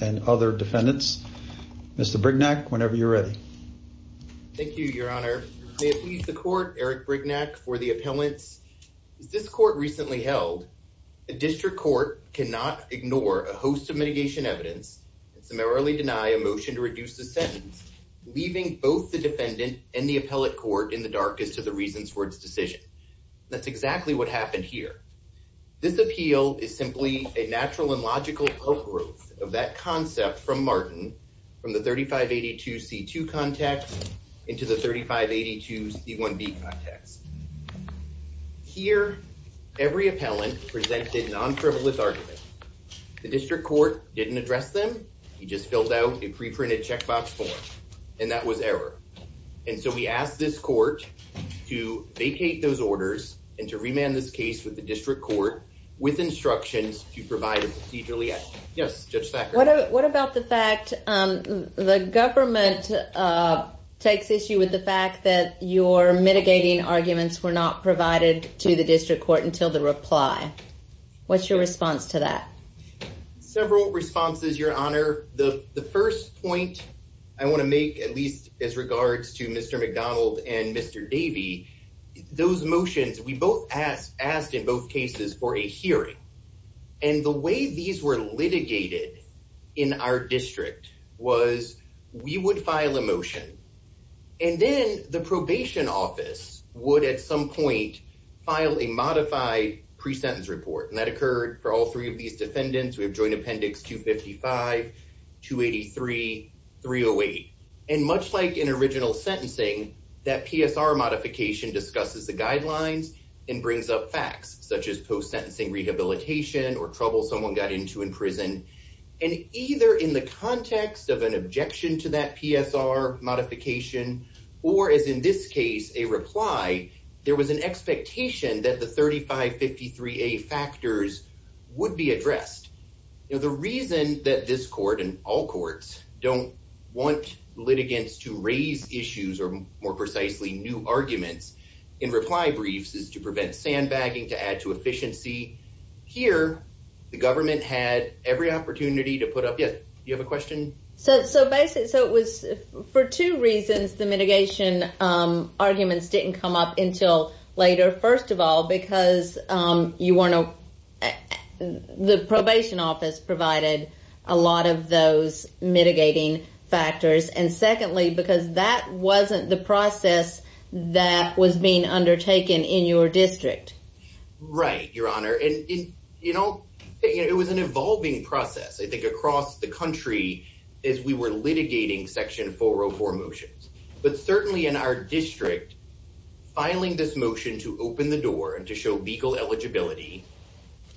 and other defendants. Mr. Brignac, whenever you're ready. Thank you, Your Honor. May it please the court, Eric Brignac, for the appellants. As this court recently held, a district court cannot ignore a hostile judge. Most of mitigation evidence summarily deny a motion to reduce the sentence, leaving both the defendant and the appellate court in the darkest of the reasons for its decision. That's exactly what happened here. This appeal is simply a natural and logical outgrowth of that concept from Martin from the 3582 C2 context into the 3582 C1B context. Here, every appellant presented non-frivolous argument. The district court didn't address them. He just filled out a preprinted checkbox form, and that was error. And so we asked this court to vacate those orders and to remand this case with the district court with instructions to provide a procedurally. What about the fact the government takes issue with the fact that your mitigating arguments were not provided to the district court until the reply? What's your response to that? Several responses, Your Honor. The first point I want to make, at least as regards to Mr. McDonald and Mr. Davie, those motions we both asked, asked in both cases for a hearing. And the way these were litigated in our district was we would file a motion and then the probation office would at some point file a modified pre-sentence report. And that occurred for all three of these defendants. We have joint appendix 255, 283, 308. And much like in original sentencing, that PSR modification discusses the guidelines and brings up facts such as post-sentencing rehabilitation or trouble someone got into in prison. And either in the context of an objection to that PSR modification or, as in this case, a reply, there was an expectation that the 3553A factors would be addressed. The reason that this court and all courts don't want litigants to raise issues or, more precisely, new arguments in reply briefs is to prevent sandbagging, to add to efficiency. Here, the government had every opportunity to put up yet. You have a question. So, so basically, so it was for two reasons. The mitigation arguments didn't come up until later. First of all, because you want to the probation office provided a lot of those mitigating factors. And secondly, because that wasn't the process that was being undertaken in your district. Right, Your Honor. And, you know, it was an evolving process, I think, across the country as we were litigating Section 404 motions. But certainly in our district, filing this motion to open the door and to show legal eligibility,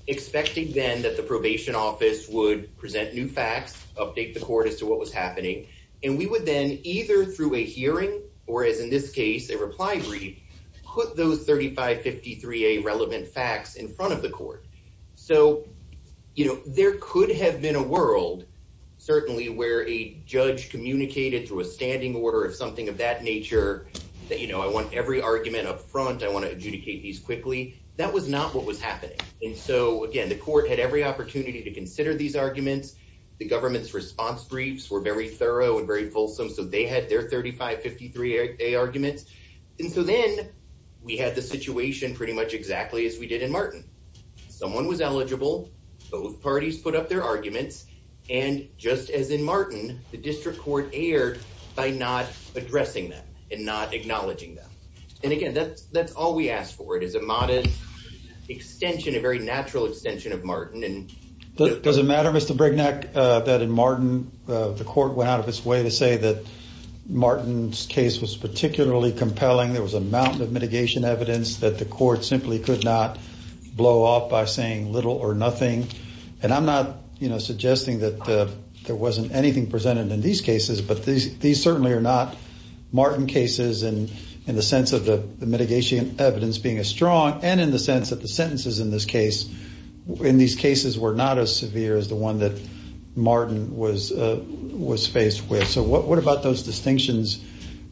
expecting then that the probation office would present new facts, update the court as to what was happening. And we would then either through a hearing or, as in this case, a reply brief, put those 3553A relevant facts in front of the court. So, you know, there could have been a world, certainly, where a judge communicated through a standing order of something of that nature that, you know, I want every argument up front. I want to adjudicate these quickly. That was not what was happening. And so, again, the court had every opportunity to consider these arguments. The government's response briefs were very thorough and very fulsome. So they had their 3553A arguments. And so then we had the situation pretty much exactly as we did in Martin. Someone was eligible. Both parties put up their arguments. And just as in Martin, the district court erred by not addressing them and not acknowledging them. And again, that's all we asked for. It is a modest extension, a very natural extension of Martin. Does it matter, Mr. Brignac, that in Martin the court went out of its way to say that Martin's case was particularly compelling? There was a mountain of mitigation evidence that the court simply could not blow off by saying little or nothing. And I'm not, you know, suggesting that there wasn't anything presented in these cases. But these certainly are not Martin cases in the sense of the mitigation evidence being as strong and in the sense that the sentences in this case, in these cases, were not as severe as the one that Martin was faced with. So what about those distinctions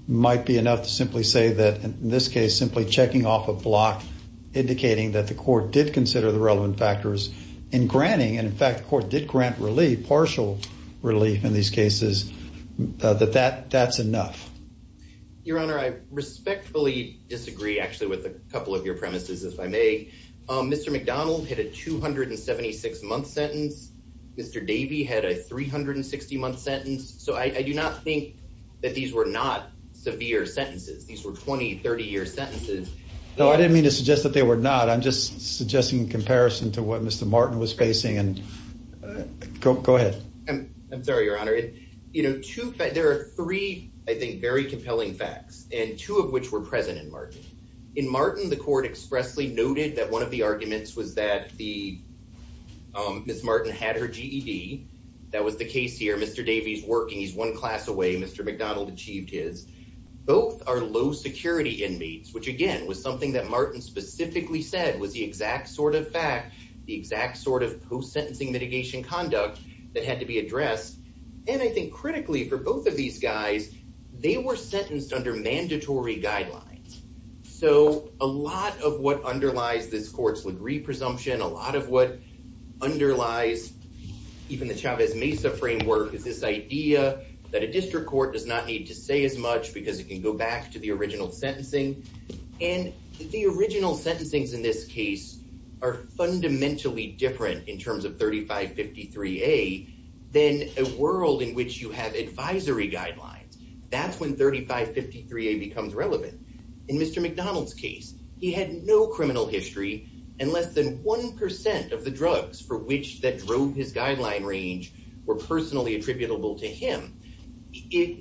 might be enough to simply say that, in this case, simply checking off a block, indicating that the court did consider the relevant factors in granting. And in fact, the court did grant relief, partial relief in these cases, that that's enough. Your Honor, I respectfully disagree, actually, with a couple of your premises, if I may. Mr. McDonald hit a 276-month sentence. Mr. Davey had a 360-month sentence. So I do not think that these were not severe sentences. These were 20-, 30-year sentences. No, I didn't mean to suggest that they were not. I'm just suggesting in comparison to what Mr. Martin was facing. Go ahead. I'm sorry, Your Honor. You know, there are three, I think, very compelling facts, and two of which were present in Martin. In Martin, the court expressly noted that one of the arguments was that Ms. Martin had her GED. That was the case here. Mr. Davey's working. He's one class away. Mr. McDonald achieved his. Both are low-security inmates, which, again, was something that Martin specifically said was the exact sort of fact, the exact sort of post-sentencing mitigation conduct that had to be addressed. And I think critically for both of these guys, they were sentenced under mandatory guidelines. So a lot of what underlies this court's Lagree presumption, a lot of what underlies even the Chavez-Mesa framework, is this idea that a district court does not need to say as much because it can go back to the original sentencing. And the original sentencings in this case are fundamentally different in terms of 3553A than a world in which you have advisory guidelines. That's when 3553A becomes relevant. In Mr. McDonald's case, he had no criminal history, and less than 1% of the drugs for which that drove his guideline range were personally attributable to him.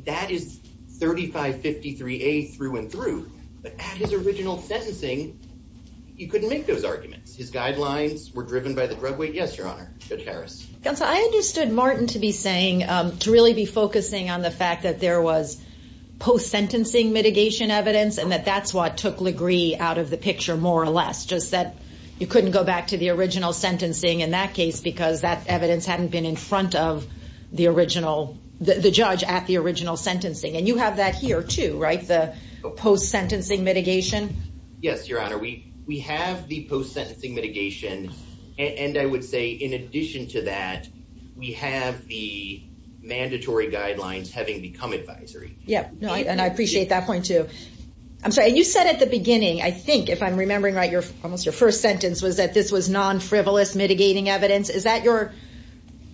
That is 3553A through and through. But at his original sentencing, he couldn't make those arguments. His guidelines were driven by the drug weight. Yes, Your Honor. Judge Harris. Counsel, I understood Martin to be saying, to really be focusing on the fact that there was post-sentencing mitigation evidence and that that's what took Lagree out of the picture more or less, just that you couldn't go back to the original sentencing in that case because that evidence hadn't been in front of the judge at the original sentencing. And you have that here too, right? The post-sentencing mitigation? Yes, Your Honor. We have the post-sentencing mitigation. And I would say in addition to that, we have the mandatory guidelines having become advisory. Yeah. And I appreciate that point too. I'm sorry, you said at the beginning, I think if I'm remembering right, almost your first sentence was that this was non-frivolous mitigating evidence. Is that your,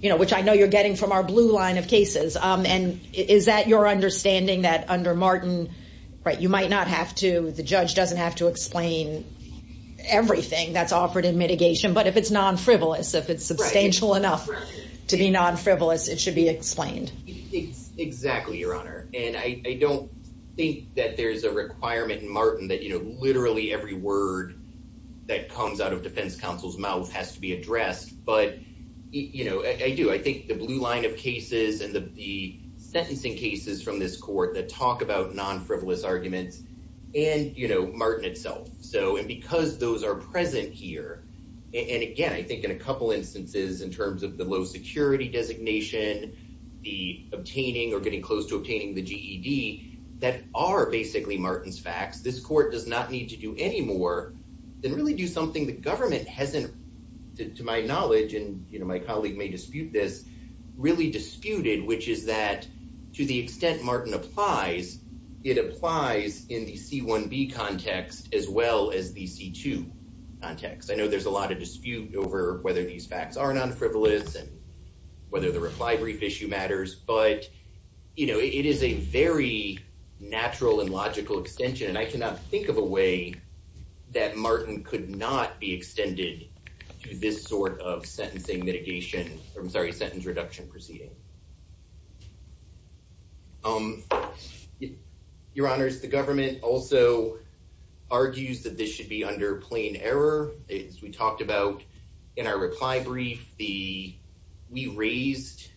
you know, which I know you're getting from our blue line of cases. And is that your understanding that under Martin, right, you might not have to, the judge doesn't have to explain everything that's offered in mitigation. But if it's non-frivolous, if it's substantial enough to be non-frivolous, it should be explained. Exactly, Your Honor. And I don't think that there's a requirement in Martin that, you know, literally every word that comes out of defense counsel's mouth has to be addressed. But, you know, I do. I think the blue line of cases and the sentencing cases from this court that talk about non-frivolous arguments and, you know, Martin itself. So, and because those are present here. And again, I think in a couple instances in terms of the low security designation, the obtaining or getting close to obtaining the GED, that are basically Martin's facts. This court does not need to do any more than really do something the government hasn't, to my knowledge, and, you know, my colleague may dispute this, really disputed, which is that to the extent Martin applies, it applies in the C-1B context as well as the C-2 context. I know there's a lot of dispute over whether these facts are non-frivolous and whether the reply brief issue matters. But, you know, it is a very natural and logical extension. And I cannot think of a way that Martin could not be extended to this sort of sentencing mitigation. I'm sorry, sentence reduction proceeding. Your honors, the government also argues that this should be under plain error. We talked about in our reply brief the we raised.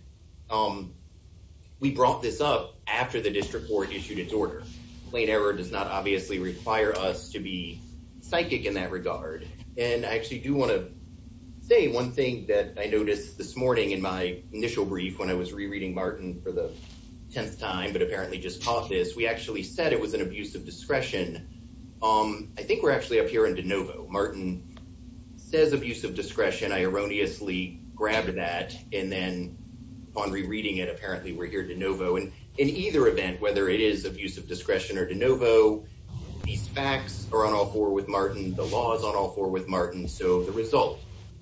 We brought this up after the district court issued its order. Plain error does not obviously require us to be psychic in that regard. And I actually do want to say one thing that I noticed this morning in my initial brief when I was rereading Martin for the 10th time, but apparently just taught this, we actually said it was an abuse of discretion. I think we're actually up here in de novo. Martin says abuse of discretion. I erroneously grabbed that. And in either event, whether it is abuse of discretion or de novo, these facts are on all four with Martin. The law is on all four with Martin. So the result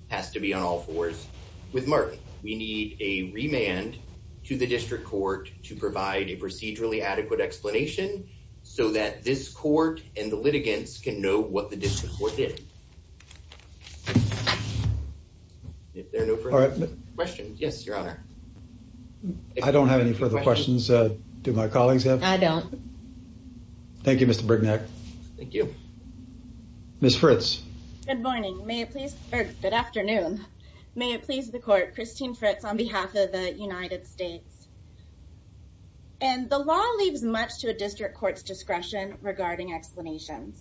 has to be on all fours with Martin. We need a remand to the district court to provide a procedurally adequate explanation so that this court and the litigants can know what the district court did. If there are no further questions. Yes, Your Honor. I don't have any further questions. Do my colleagues have? I don't. Thank you, Mr. Brignac. Thank you. Ms. Fritz. Good morning. May it please. Good afternoon. May it please the court. Christine Fritz on behalf of the United States. And the law leaves much to a district court's discretion regarding explanations.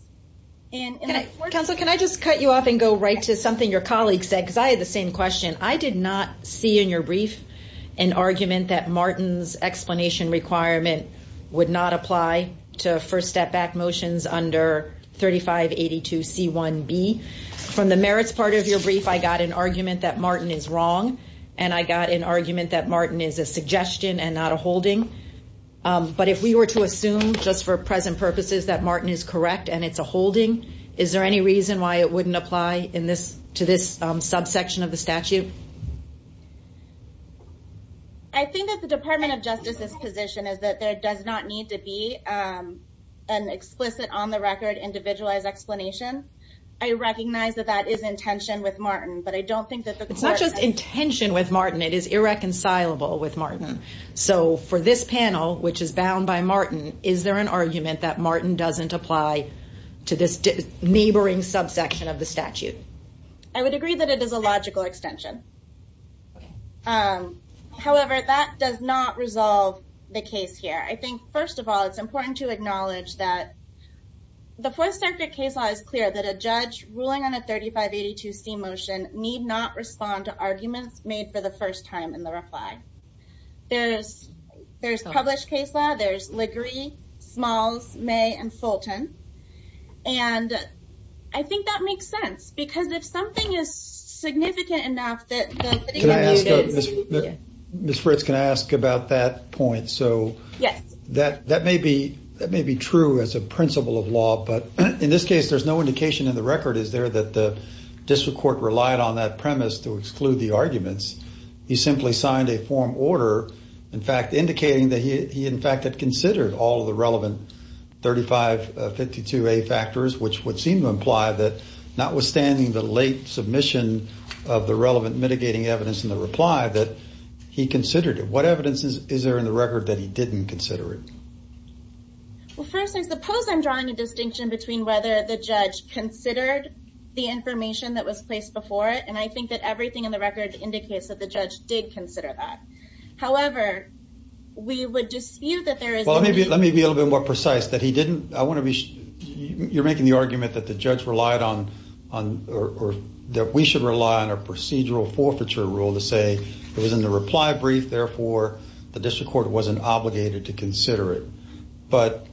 Counsel, can I just cut you off and go right to something your colleagues said? Because I had the same question. I did not see in your brief an argument that Martin's explanation requirement would not apply to first step back motions under 3582C1B. From the merits part of your brief, I got an argument that Martin is wrong. And I got an argument that Martin is a suggestion and not a holding. But if we were to assume just for present purposes that Martin is correct and it's a holding, is there any reason why it wouldn't apply to this subsection of the statute? I think that the Department of Justice's position is that there does not need to be an explicit on the record individualized explanation. I recognize that that is intention with Martin. But I don't think that the court. It's not just intention with Martin. It is irreconcilable with Martin. So for this panel, which is bound by Martin, is there an argument that Martin doesn't apply to this neighboring subsection of the statute? I would agree that it is a logical extension. However, that does not resolve the case here. I think, first of all, it's important to acknowledge that the Fourth Circuit case law is clear that a judge ruling on a 3582C motion need not respond to arguments made for the first time in the reply. There's published case law. There's Liguri, Smalls, May, and Fulton. And I think that makes sense. Because if something is significant enough that... Ms. Fritz, can I ask about that point? So that may be true as a principle of law. But in this case, there's no indication in the record, is there, that the district court relied on that premise to exclude the arguments. He simply signed a form order, in fact, indicating that he, in fact, had considered all of the relevant 3552A factors, which would seem to imply that notwithstanding the late submission of the relevant mitigating evidence in the reply, that he considered it. What evidence is there in the record that he didn't consider it? Well, first, I suppose I'm drawing a distinction between whether the judge considered the information that was placed before it. And I think that everything in the record indicates that the judge did consider that. However, we would dispute that there is... Well, let me be a little bit more precise, that he didn't... I want to be... You're making the argument that the judge relied on, or that we should rely on a procedural forfeiture rule to say, it was in the reply brief, therefore, the district court wasn't obligated to consider it. But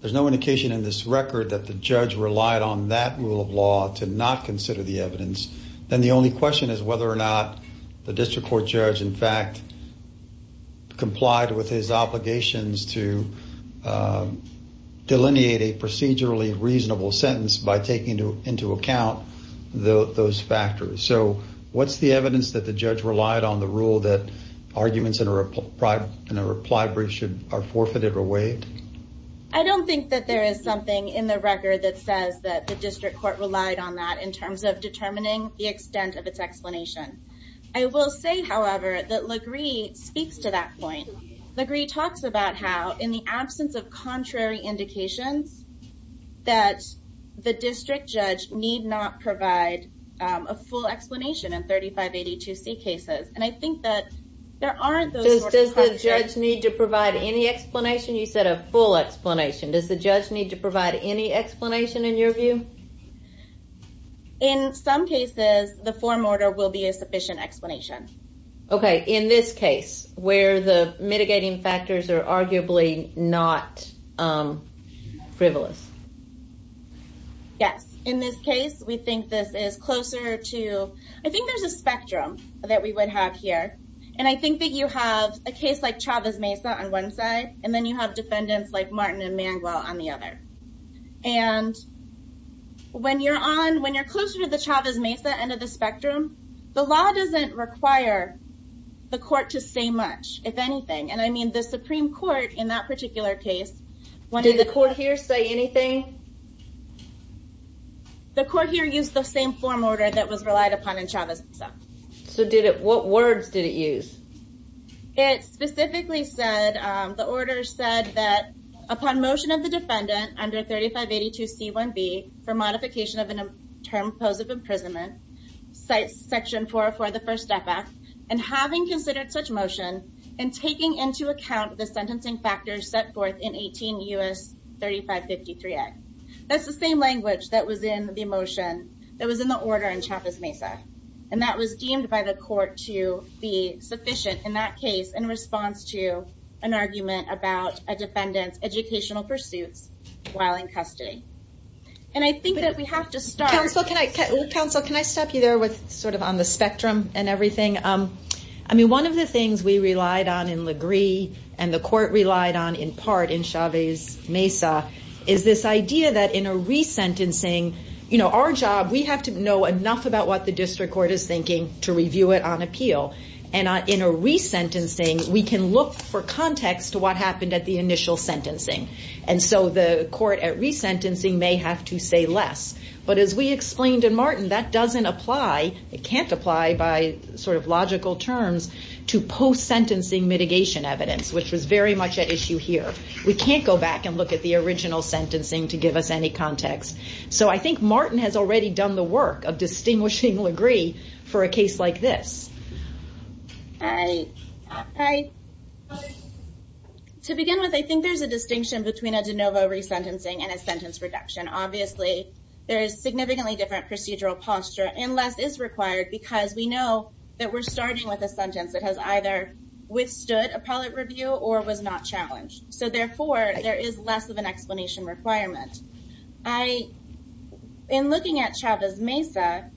there's no indication in this record that the judge relied on that rule of law to not consider the evidence. Then the only question is whether or not the district court judge, in fact, complied with his obligations to delineate a procedurally reasonable sentence by taking into account those factors. So, what's the evidence that the judge relied on the rule that arguments in a reply brief are forfeited or waived? I don't think that there is something in the record that says that the district court relied on that in terms of determining the extent of its explanation. I will say, however, that Legree speaks to that point. Legree talks about how, in the absence of contrary indications, that the district judge need not provide a full explanation in 3582C cases. And I think that there aren't those... Does the judge need to provide any explanation? You said a full explanation. Does the judge need to provide any explanation, in your view? In some cases, the form order will be a sufficient explanation. Okay. In this case, where the mitigating factors are arguably not frivolous. Yes. In this case, we think this is closer to... I think there's a spectrum that we would have here. And I think that you have a case like Chavez-Mesa on one side, and then you have defendants like Martin and Mangwell on the other. And when you're closer to the Chavez-Mesa end of the spectrum, the law doesn't require the court to say much, if anything. And I mean, the Supreme Court, in that particular case... Did the court here say anything? The court here used the same form order that was relied upon in Chavez-Mesa. So what words did it use? It specifically said, the order said that, upon motion of the defendant under 3582C1B for modification of a term posed of imprisonment, section 404 of the First Step Act, and having considered such motion, and taking into account the sentencing factors set forth in 18 U.S. 3553A. That's the same language that was in the order in Chavez-Mesa. And that was deemed by the court to be sufficient in that case, in response to an argument about a defendant's educational pursuits while in custody. And I think that we have to start... Counsel, can I stop you there, sort of on the spectrum and everything? I mean, one of the things we relied on in LaGree, and the court relied on in part in Chavez-Mesa, is this idea that in a resentencing, you know, our job, we have to know enough about what the district court is thinking to review it on appeal. And in a resentencing, we can look for context to what happened at the initial sentencing. And so the court at resentencing may have to say less. But as we explained in Martin, that doesn't apply, it can't apply by sort of logical terms to post-sentencing mitigation evidence, which was very much at issue here. We can't go back and look at the original sentencing to give us any context. So I think Martin has already done the work of distinguishing LaGree for a case like this. To begin with, I think there's a distinction between a de novo resentencing and a sentence reduction. Obviously, there is significantly different procedural posture, and less is required because we know that we're starting with a sentence that has either withstood appellate review or was not challenged. So therefore, there is less of an explanation requirement. In looking at Chavez-Mesa,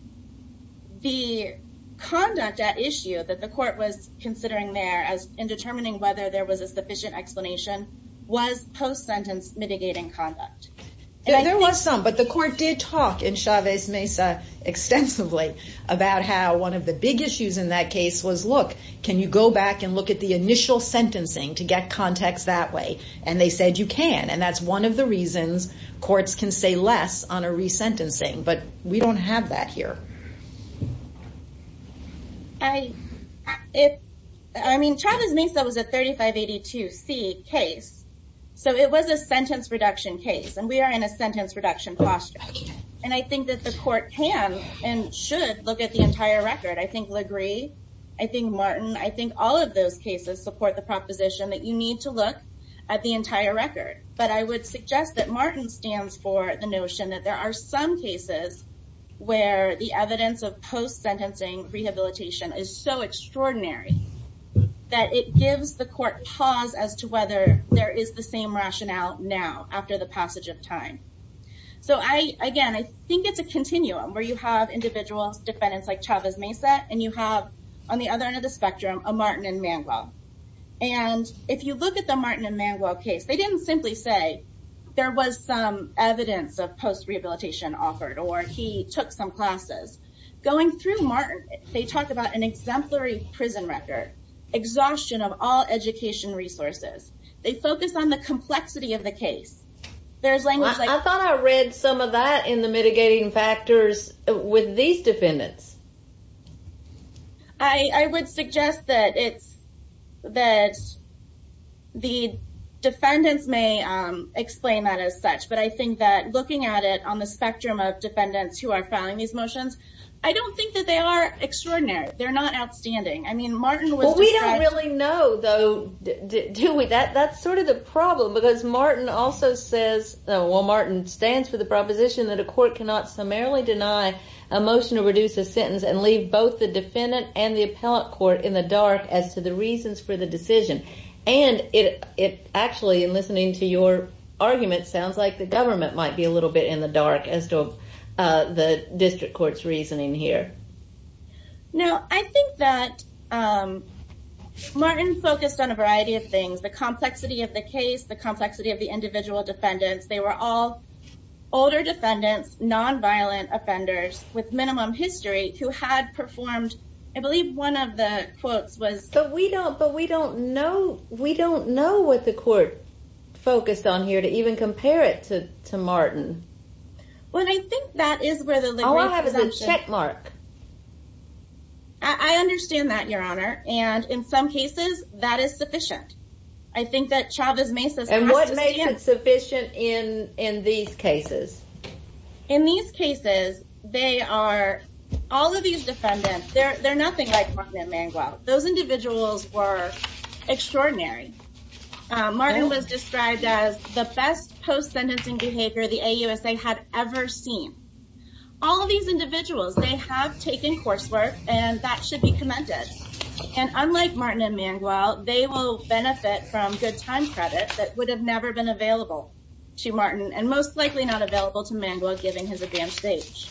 the conduct at issue that the court was considering there in determining whether there was a sufficient explanation, was post-sentence mitigating conduct. There was some, but the court did talk in Chavez-Mesa extensively about how one of the big issues in that case was, look, can you go back and look at the initial sentencing to get context that way? And they said you can. And that's one of the reasons courts can say less on a resentencing. But we don't have that here. I mean, Chavez-Mesa was a 3582C case. So it was a sentence reduction case. And we are in a sentence reduction posture. And I think that the court can and should look at the entire record. I think Legree, I think Martin, I think all of those cases support the proposition that you need to look at the entire record. But I would suggest that Martin stands for the notion that there are some cases where the evidence of post-sentencing rehabilitation is so extraordinary that it gives the court pause as to whether there is the same rationale now after the passage of time. So, again, I think it's a continuum where you have individual defendants like Chavez-Mesa and you have, on the other end of the spectrum, a Martin and Manuel. And if you look at the Martin and Manuel case, they didn't simply say there was some evidence of post-rehabilitation offered or he took some classes. Going through Martin, they talk about an exemplary prison record, exhaustion of all education resources. They focus on the complexity of the case. I thought I read some of that in the mitigating factors with these defendants. I would suggest that the defendants may explain that as such, but I think that looking at it on the spectrum of defendants who are filing these motions, I don't think that they are extraordinary. They're not outstanding. Well, we don't really know, though, do we? That's sort of the problem because Martin also says, well, Martin stands for the proposition that a court cannot summarily deny a motion to reduce a sentence and leave both the defendant and the appellate court in the dark as to the reasons for the decision. And it actually, in listening to your argument, sounds like the government might be a little bit in the dark as to the district court's reasoning here. No, I think that Martin focused on a variety of things. The complexity of the case, the complexity of the individual defendants. They were all older defendants, nonviolent offenders with minimum history who had performed, I believe one of the quotes was... But we don't know what the court focused on here to even compare it to Martin. Well, I think that is where the library... All I have is a checkmark. I understand that, Your Honor. And in some cases, that is sufficient. I think that Chavez Mesa... And what makes it sufficient in these cases? In these cases, they are... All of these defendants, they're nothing like Martin and Manguel. Those individuals were extraordinary. Martin was described as the best post-sentencing behavior the AUSA had ever seen. All of these individuals, they have taken coursework, and that should be commended. And unlike Martin and Manguel, they will benefit from good time credit that would have never been available to Martin, and most likely not available to Manguel given his advanced age.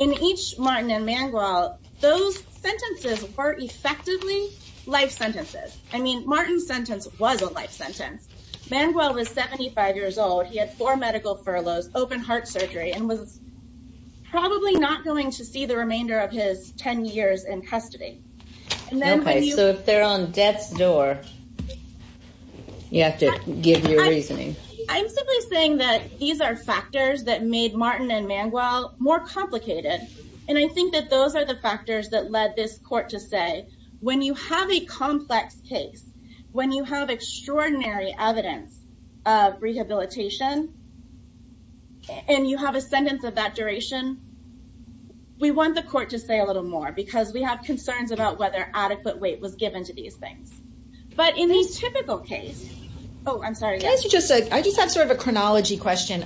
In each Martin and Manguel, those sentences were effectively life sentences. I mean, Martin's sentence was a life sentence. Manguel was 75 years old. He had four medical furloughs, open-heart surgery, and was probably not going to see the remainder of his 10 years in custody. Okay, so if they're on death's door, you have to give your reasoning. I'm simply saying that these are factors that made Martin and Manguel more complicated, and I think that those are the factors that led this court to say, when you have a complex case, when you have extraordinary evidence of rehabilitation, and you have a sentence of that duration, we want the court to say a little more because we have concerns about whether adequate weight was given to these things. But in the typical case... Oh, I'm sorry. I just have sort of a chronology question.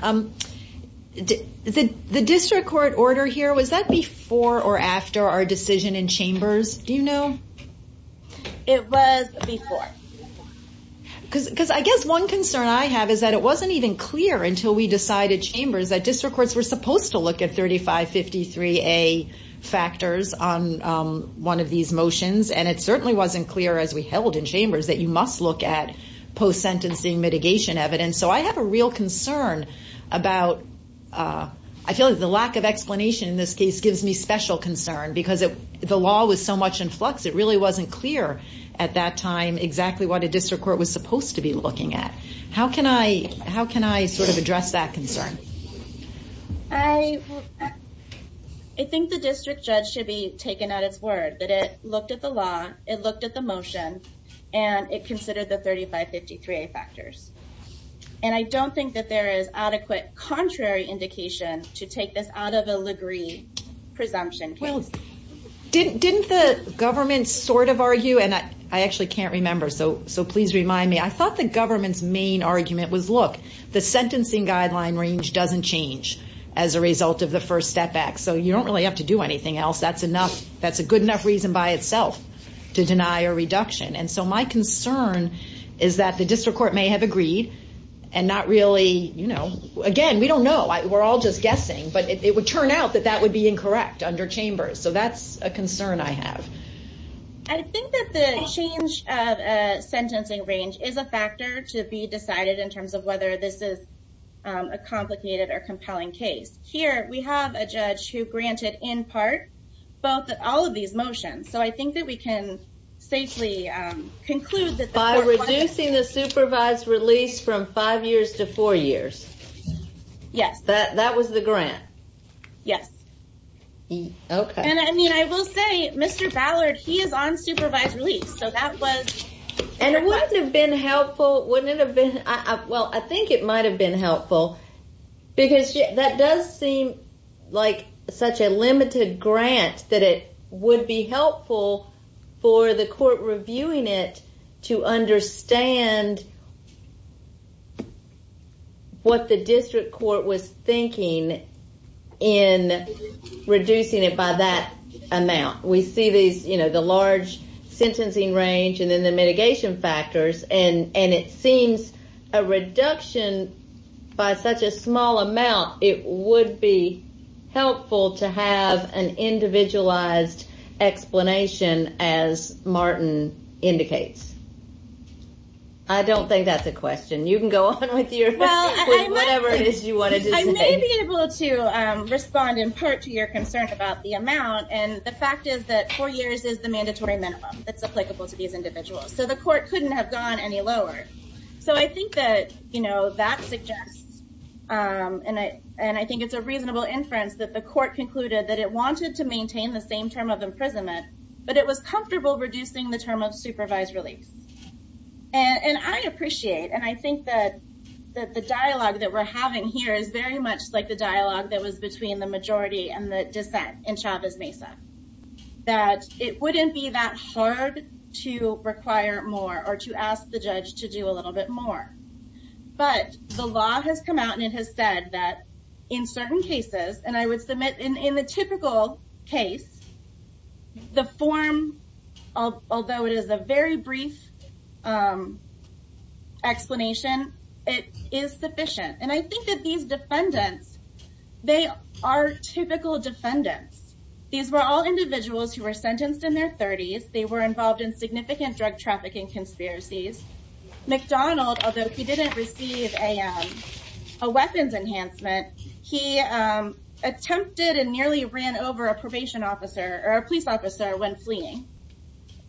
The district court order here, was that before or after our decision in Chambers? Do you know? It was before. Because I guess one concern I have is that it wasn't even clear until we decided in Chambers that district courts were supposed to look at 3553A factors on one of these motions, and it certainly wasn't clear as we held in Chambers that you must look at post-sentencing mitigation evidence. So I have a real concern about... I feel like the lack of explanation in this case gives me special concern because the law was so much in flux, it really wasn't clear at that time exactly what a district court was supposed to be looking at. How can I sort of address that concern? I think the district judge should be taken at its word that it looked at the law, it looked at the motion, and it considered the 3553A factors. And I don't think that there is adequate contrary indication to take this out of a Ligree presumption case. Didn't the government sort of argue... And I actually can't remember, so please remind me. I thought the government's main argument was, look, the sentencing guideline range doesn't change as a result of the first step back, so you don't really have to do anything else. That's a good enough reason by itself to deny a reduction. And so my concern is that the district court may have agreed and not really, you know... Again, we don't know. We're all just guessing. But it would turn out that that would be incorrect under Chambers. So that's a concern I have. I think that the change of sentencing range is a factor to be decided in terms of whether this is a complicated or compelling case. Here we have a judge who granted, in part, all of these motions. So I think that we can safely conclude that... By reducing the supervised release from five years to four years. Yes. That was the grant? Yes. Okay. And I mean, I will say, Mr. Ballard, he is on supervised release. So that was... And it wouldn't have been helpful... Wouldn't it have been... Well, I think it might have been helpful because that does seem like such a limited grant that it would be helpful for the court reviewing it to understand what the district court was thinking in reducing it by that amount. We see these, you know, the large sentencing range and then the mitigation factors. And it seems a reduction by such a small amount, it would be helpful to have an individualized explanation, as Martin indicates. I don't think that's a question. You can go on with your question, with whatever it is you wanted to say. I may be able to respond, in part, to your concern about the amount. And the fact is that four years is the mandatory minimum that's applicable to these individuals. So the court couldn't have gone any lower. So I think that, you know, that suggests, and I think it's a reasonable inference, that the court concluded that it wanted to maintain the same term of imprisonment, but it was comfortable reducing the term of supervised release. And I appreciate, and I think that the dialogue that we're having here is very much like the dialogue that was between the majority and the dissent in Chavez-Mesa, that it wouldn't be that hard to require more or to ask the judge to do a little bit more. But the law has come out and it has said that in certain cases, and I would submit in the typical case, the form, although it is a very brief explanation, it is sufficient. And I think that these defendants, they are typical defendants. These were all individuals who were sentenced in their 30s. They were involved in significant drug trafficking conspiracies. McDonald, although he didn't receive a weapons enhancement, he attempted and nearly ran over a probation officer, or a police officer, when fleeing.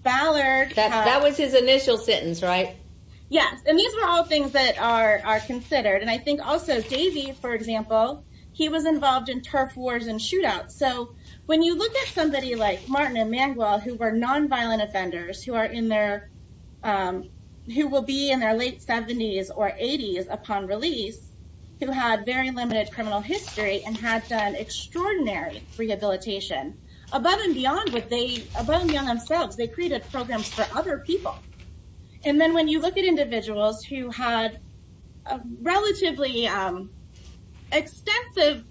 Ballard... That was his initial sentence, right? Yes, and these were all things that are considered. And I think also Davey, for example, he was involved in turf wars and shootouts. So when you look at somebody like Martin and Mangwell, who were nonviolent offenders, who will be in their late 70s or 80s upon release, who had very limited criminal history and had done extraordinary rehabilitation, above and beyond themselves, they created programs for other people. And then when you look at individuals who had relatively extensive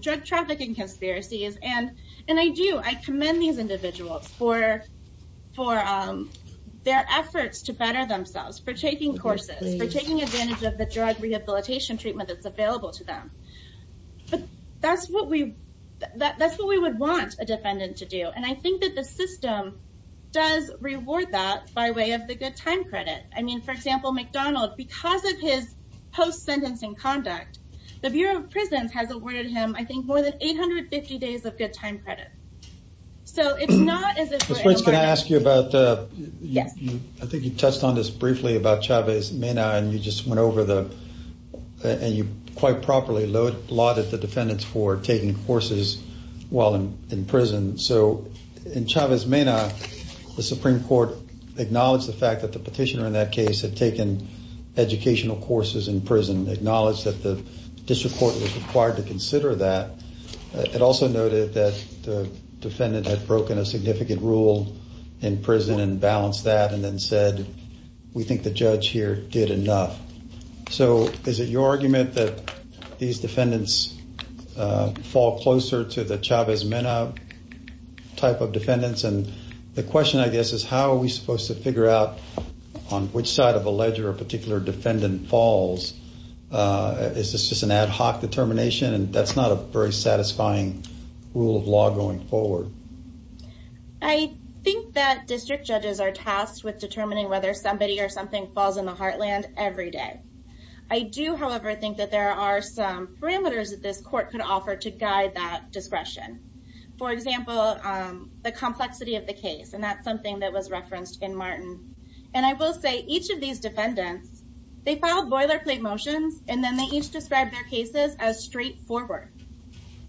drug trafficking conspiracies, and I do, I commend these individuals for their efforts to better themselves, for taking courses, for taking advantage of the drug rehabilitation treatment that's available to them. But that's what we would want a defendant to do. And I think that the system does reward that by way of the good time credit. I mean, for example, McDonald, because of his post-sentencing conduct, the Bureau of Prisons has awarded him, I think, more than 850 days of good time credit. So it's not as if we're... Ms. Prince, can I ask you about... Yes. I think you touched on this briefly about Chavez-Mena, and you just went over the... and you quite properly lauded the defendants for taking courses while in prison. So in Chavez-Mena, the Supreme Court acknowledged the fact that the petitioner in that case had taken educational courses in prison, acknowledged that the district court was required to consider that. It also noted that the defendant had broken a significant rule in prison and balanced that and then said, we think the judge here did enough. So is it your argument that these defendants fall closer to the Chavez-Mena type of defendants? And the question, I guess, is how are we supposed to figure out on which side of a ledger a particular defendant falls? Is this just an ad hoc determination? And that's not a very satisfying rule of law going forward. I think that district judges are tasked with determining whether somebody or something falls in the heartland every day. I do, however, think that there are some parameters that this court could offer to guide that discretion. For example, the complexity of the case, and that's something that was referenced in Martin. And I will say each of these defendants, they filed boilerplate motions and then they each described their cases as straightforward.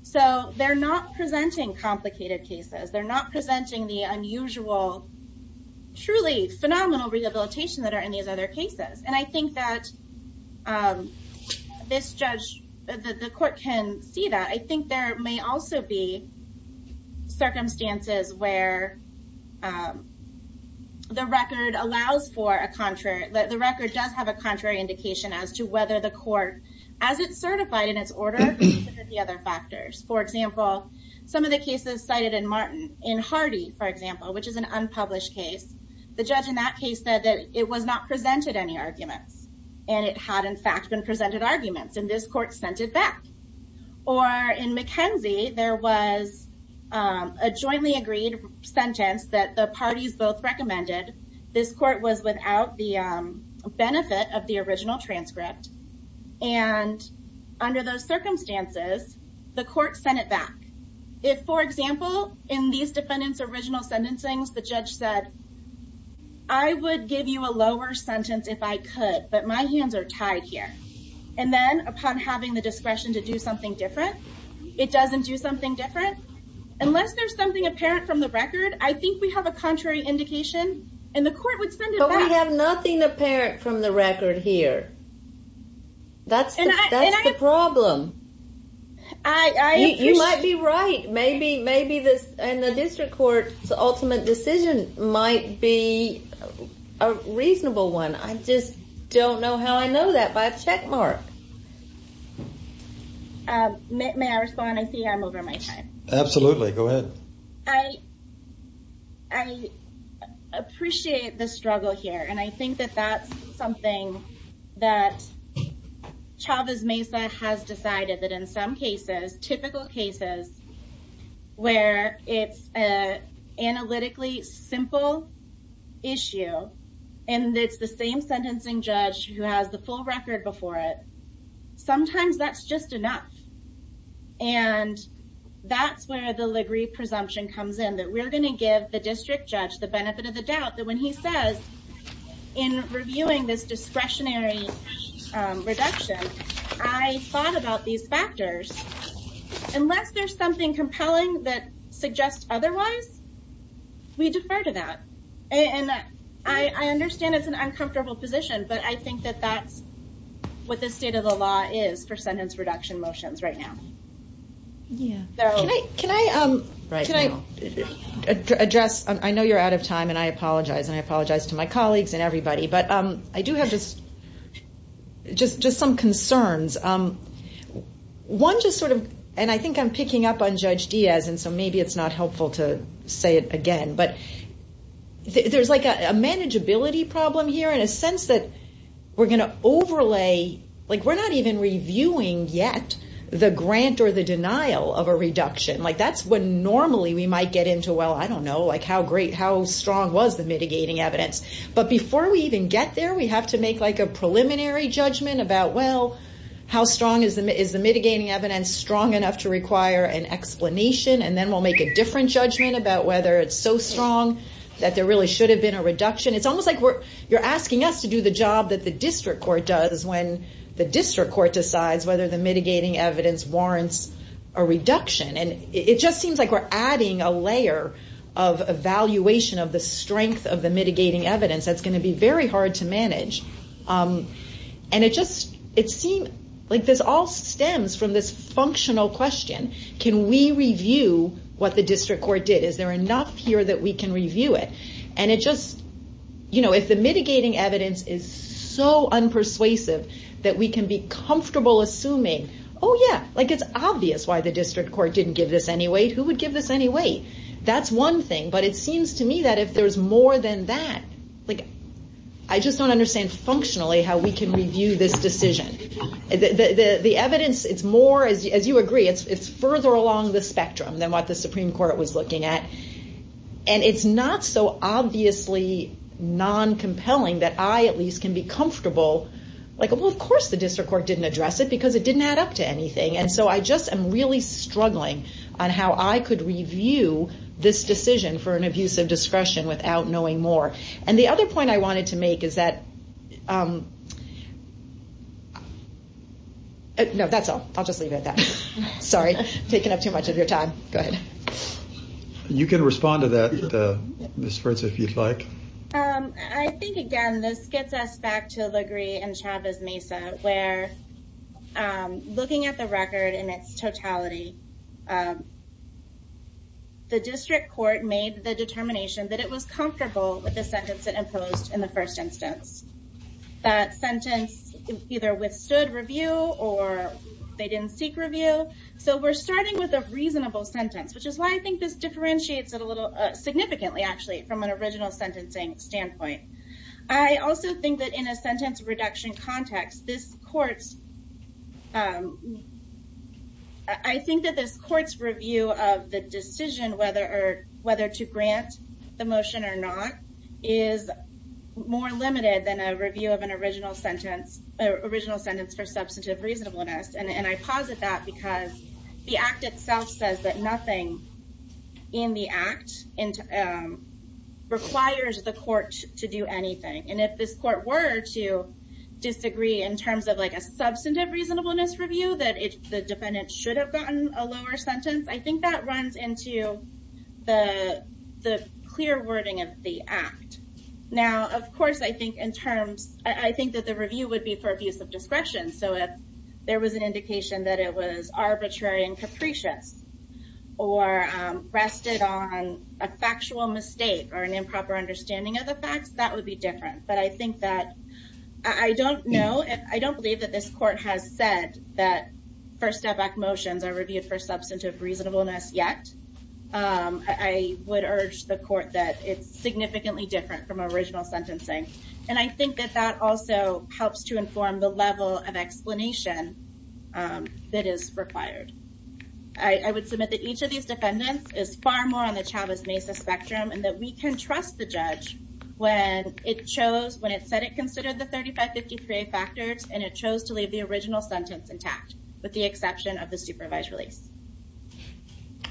So they're not presenting complicated cases. They're not presenting the unusual, truly phenomenal rehabilitation that are in these other cases. And I think that the court can see that. I think there may also be circumstances where the record does have a contrary indication as to whether the court, as it's certified in its order, considered the other factors. For example, some of the cases cited in Martin, in Hardy, for example, which is an unpublished case, the judge in that case said that it was not presented any arguments. And it had, in fact, been presented arguments. And this court sent it back. Or in McKenzie, there was a jointly agreed sentence that the parties both recommended. This court was without the benefit of the original transcript. And under those circumstances, the court sent it back. If, for example, in these defendants' original sentencing, the judge said, I would give you a lower sentence if I could, but my hands are tied here. And then, upon having the discretion to do something different, it doesn't do something different. Unless there's something apparent from the record, I think we have a contrary indication, and the court would send it back. But we have nothing apparent from the record here. That's the problem. You might be right. Maybe the district court's ultimate decision might be a reasonable one. I just don't know how I know that by a checkmark. May I respond? I see I'm over my time. Absolutely. Go ahead. I appreciate the struggle here. And I think that that's something that Chavez Mesa has decided that in some cases, typical cases, where it's an analytically simple issue, and it's the same sentencing judge who has the full record before it, sometimes that's just enough. And that's where the Ligre presumption comes in, that we're going to give the district judge the benefit of the doubt that when he says, in reviewing this discretionary reduction, I thought about these factors. Unless there's something compelling that suggests otherwise, we defer to that. And I understand it's an uncomfortable position, but I think that that's what the state of the law is for sentence reduction motions right now. Can I address? I know you're out of time, and I apologize, and I apologize to my colleagues and everybody, but I do have just some concerns. One just sort of, and I think I'm picking up on Judge Diaz, and so maybe it's not helpful to say it again, but there's like a manageability problem here, in a sense that we're going to overlay, like we're not even reviewing yet the grant or the denial of a reduction. That's what normally we might get into, well, I don't know, like how great, how strong was the mitigating evidence? But before we even get there, we have to make like a preliminary judgment about, well, how strong is the mitigating evidence, strong enough to require an explanation, and then we'll make a different judgment about whether it's so strong that there really should have been a reduction. It's almost like you're asking us to do the job that the district court does when the district court decides whether the mitigating evidence warrants a reduction. And it just seems like we're adding a layer of evaluation of the strength of the mitigating evidence that's going to be very hard to manage. And it just, it seems like this all stems from this functional question, can we review what the district court did? Is there enough here that we can review it? And it just, you know, if the mitigating evidence is so unpersuasive that we can be comfortable assuming, oh yeah, like it's obvious why the district court didn't give this any weight. Who would give this any weight? That's one thing, but it seems to me that if there's more than that, like I just don't understand functionally how we can review this decision. The evidence, it's more, as you agree, it's further along the spectrum than what the Supreme Court was looking at. And it's not so obviously non-compelling that I at least can be comfortable, like, well, of course the district court didn't address it because it didn't add up to anything. And so I just am really struggling on how I could review this decision for an abuse of discretion without knowing more. And the other point I wanted to make is that... No, that's all. I'll just leave it at that. Sorry, taking up too much of your time. Go ahead. You can respond to that, Ms. Fritz, if you'd like. I think, again, this gets us back to Legree and Chavez-Mesa, where looking at the record in its totality, the district court made the determination that it was comfortable with the sentence it imposed in the first instance. That sentence either withstood review or they didn't seek review. So we're starting with a reasonable sentence, which is why I think this differentiates it a little, significantly, actually, from an original sentencing standpoint. I also think that in a sentence reduction context, I think that this court's review of the decision whether to grant the motion or not is more limited than a review of an original sentence for substantive reasonableness. And I posit that because the Act itself says that nothing in the Act requires the court to do anything. And if this court were to disagree in terms of a substantive reasonableness review, that the defendant should have gotten a lower sentence, I think that runs into the clear wording of the Act. Now, of course, I think that the review would be for abuse of discretion. So if there was an indication that it was arbitrary and capricious or rested on a factual mistake or an improper understanding of the facts, that would be different. But I think that, I don't know, I don't believe that this court has said that First Step Act motions are reviewed for substantive reasonableness yet. I would urge the court that it's significantly different from original sentencing. And I think that that also helps to inform the level of explanation that is required. I would submit that each of these defendants is far more on the Chavez-Mesa spectrum and that we can trust the judge when it chose, when it said it considered the 3553A factors and it chose to leave the original sentence intact with the exception of the supervised release.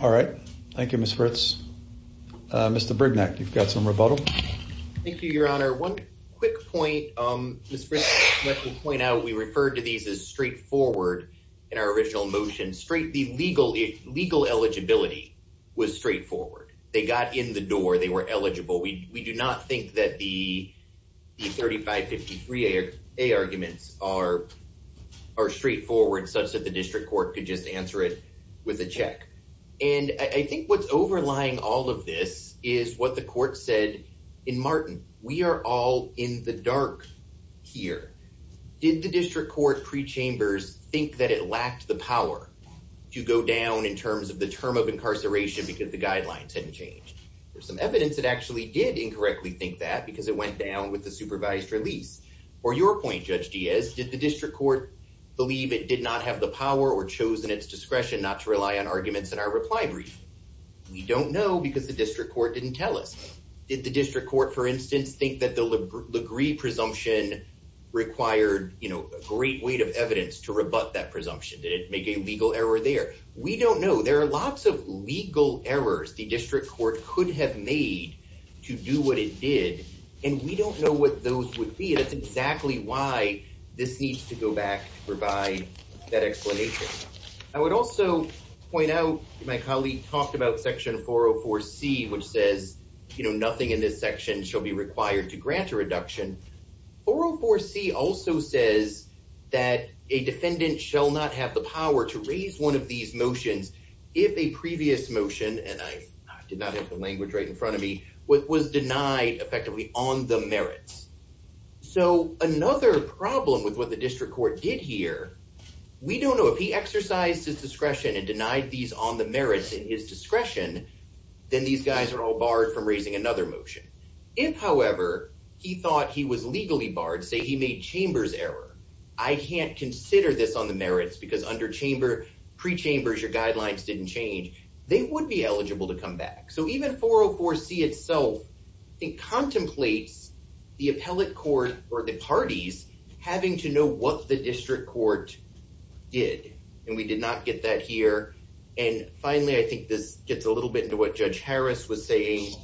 All right. Thank you, Ms. Fritz. Mr. Brignac, you've got some rebuttal. Thank you, Your Honor. One quick point, Ms. Fritz, I would like to point out we referred to these as straightforward in our original motion. The legal eligibility was straightforward. They got in the door. They were eligible. We do not think that the 3553A arguments are straightforward such that the district court could just answer it with a check. And I think what's overlying all of this is what the court said in Martin. We are all in the dark here. Did the district court pre-chambers think that it lacked the power to go down in terms of the term of incarceration because the guidelines hadn't changed? There's some evidence it actually did incorrectly think that because it went down with the supervised release. Or your point, Judge Diaz, did the district court believe it did not have the power or chose in its discretion not to rely on arguments in our reply brief? We don't know because the district court didn't tell us. Did the district court, for instance, think that the LaGree presumption required a great weight of evidence to rebut that presumption? Did it make a legal error there? We don't know. There are lots of legal errors the district court could have made to do what it did. And we don't know what those would be. That's exactly why this needs to go back to provide that explanation. I would also point out my colleague talked about Section 404C which says nothing in this section shall be required to grant a reduction. 404C also says that a defendant shall not have the power to raise one of these motions if a previous motion and I did not have the language right in front of me was denied effectively on the merits. So another problem with what the district court did here we don't know if he exercised his discretion and denied these on the merits in his discretion then these guys are all barred from raising another motion. If, however, he thought he was legally barred say he made chambers error I can't consider this on the merits because under chamber, pre-chambers your guidelines didn't change they would be eligible to come back. So even 404C itself it contemplates the appellate court or the parties having to know what the district court did. And we did not get that here. And finally I think this gets a little bit into what Judge Harris was saying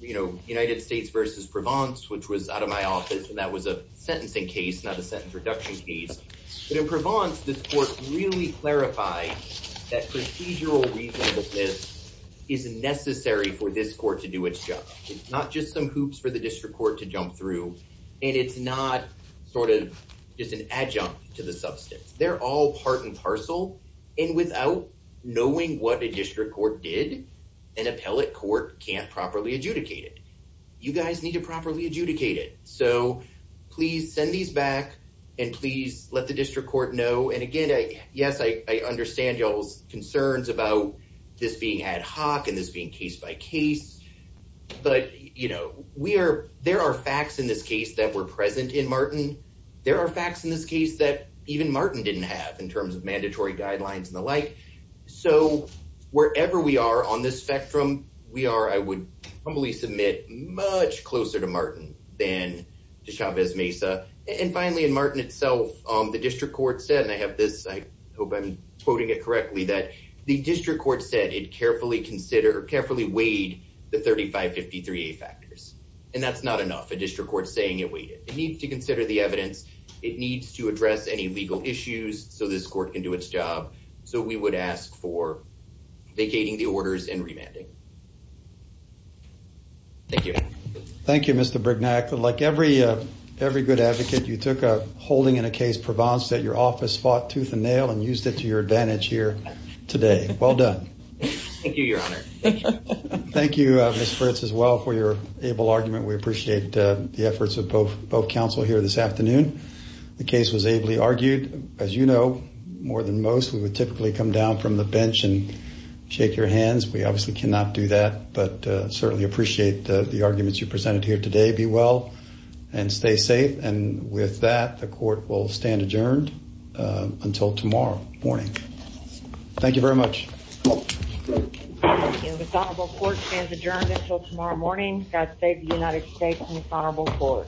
United States versus Provence which was out of my office and that was a sentencing case not a sentence reduction case. But in Provence this court really clarified that procedural reasonableness is necessary for this court to do its job. It's not just some hoops for the district court to jump through and it's not just an adjunct to the substance. They're all part and parcel and without knowing what a district court did an appellate court can't properly adjudicate it. You guys need to properly adjudicate it. So please send these back and please let the district court know and again yes I understand y'all's concerns about this being ad hoc and this being case by case but you know there are facts in this case that were present in Martin there are facts in this case that even Martin didn't have in terms of mandatory guidelines and the like. So wherever we are on this spectrum we are I would humbly submit much closer to Martin than to Chavez Mesa and finally in Martin itself the district court said and I have this I hope I'm quoting it correctly that the district court said it carefully weighed the 3553A factors and that's not enough. A district court saying it weighed it. It needs to consider the evidence it needs to address any legal issues so this court can do its job so we would ask for vacating the orders and remanding. Thank you. Thank you Mr. Brignac. Like every good advocate you took a holding in a case Provence that your office fought tooth and nail and used it to your advantage here today. Well done. Thank you your honor. Thank you Ms. Fritz as well for your able argument. We appreciate the efforts of both counsel here this afternoon. The case was ably argued as you know more than most we would typically come down from the bench and shake your hands. We obviously cannot do that but certainly appreciate the arguments you presented here today. Be well and stay safe and with that the court will stand adjourned until tomorrow morning. Thank you very much. The dishonorable court stands adjourned until tomorrow morning. God save the United States and the dishonorable court.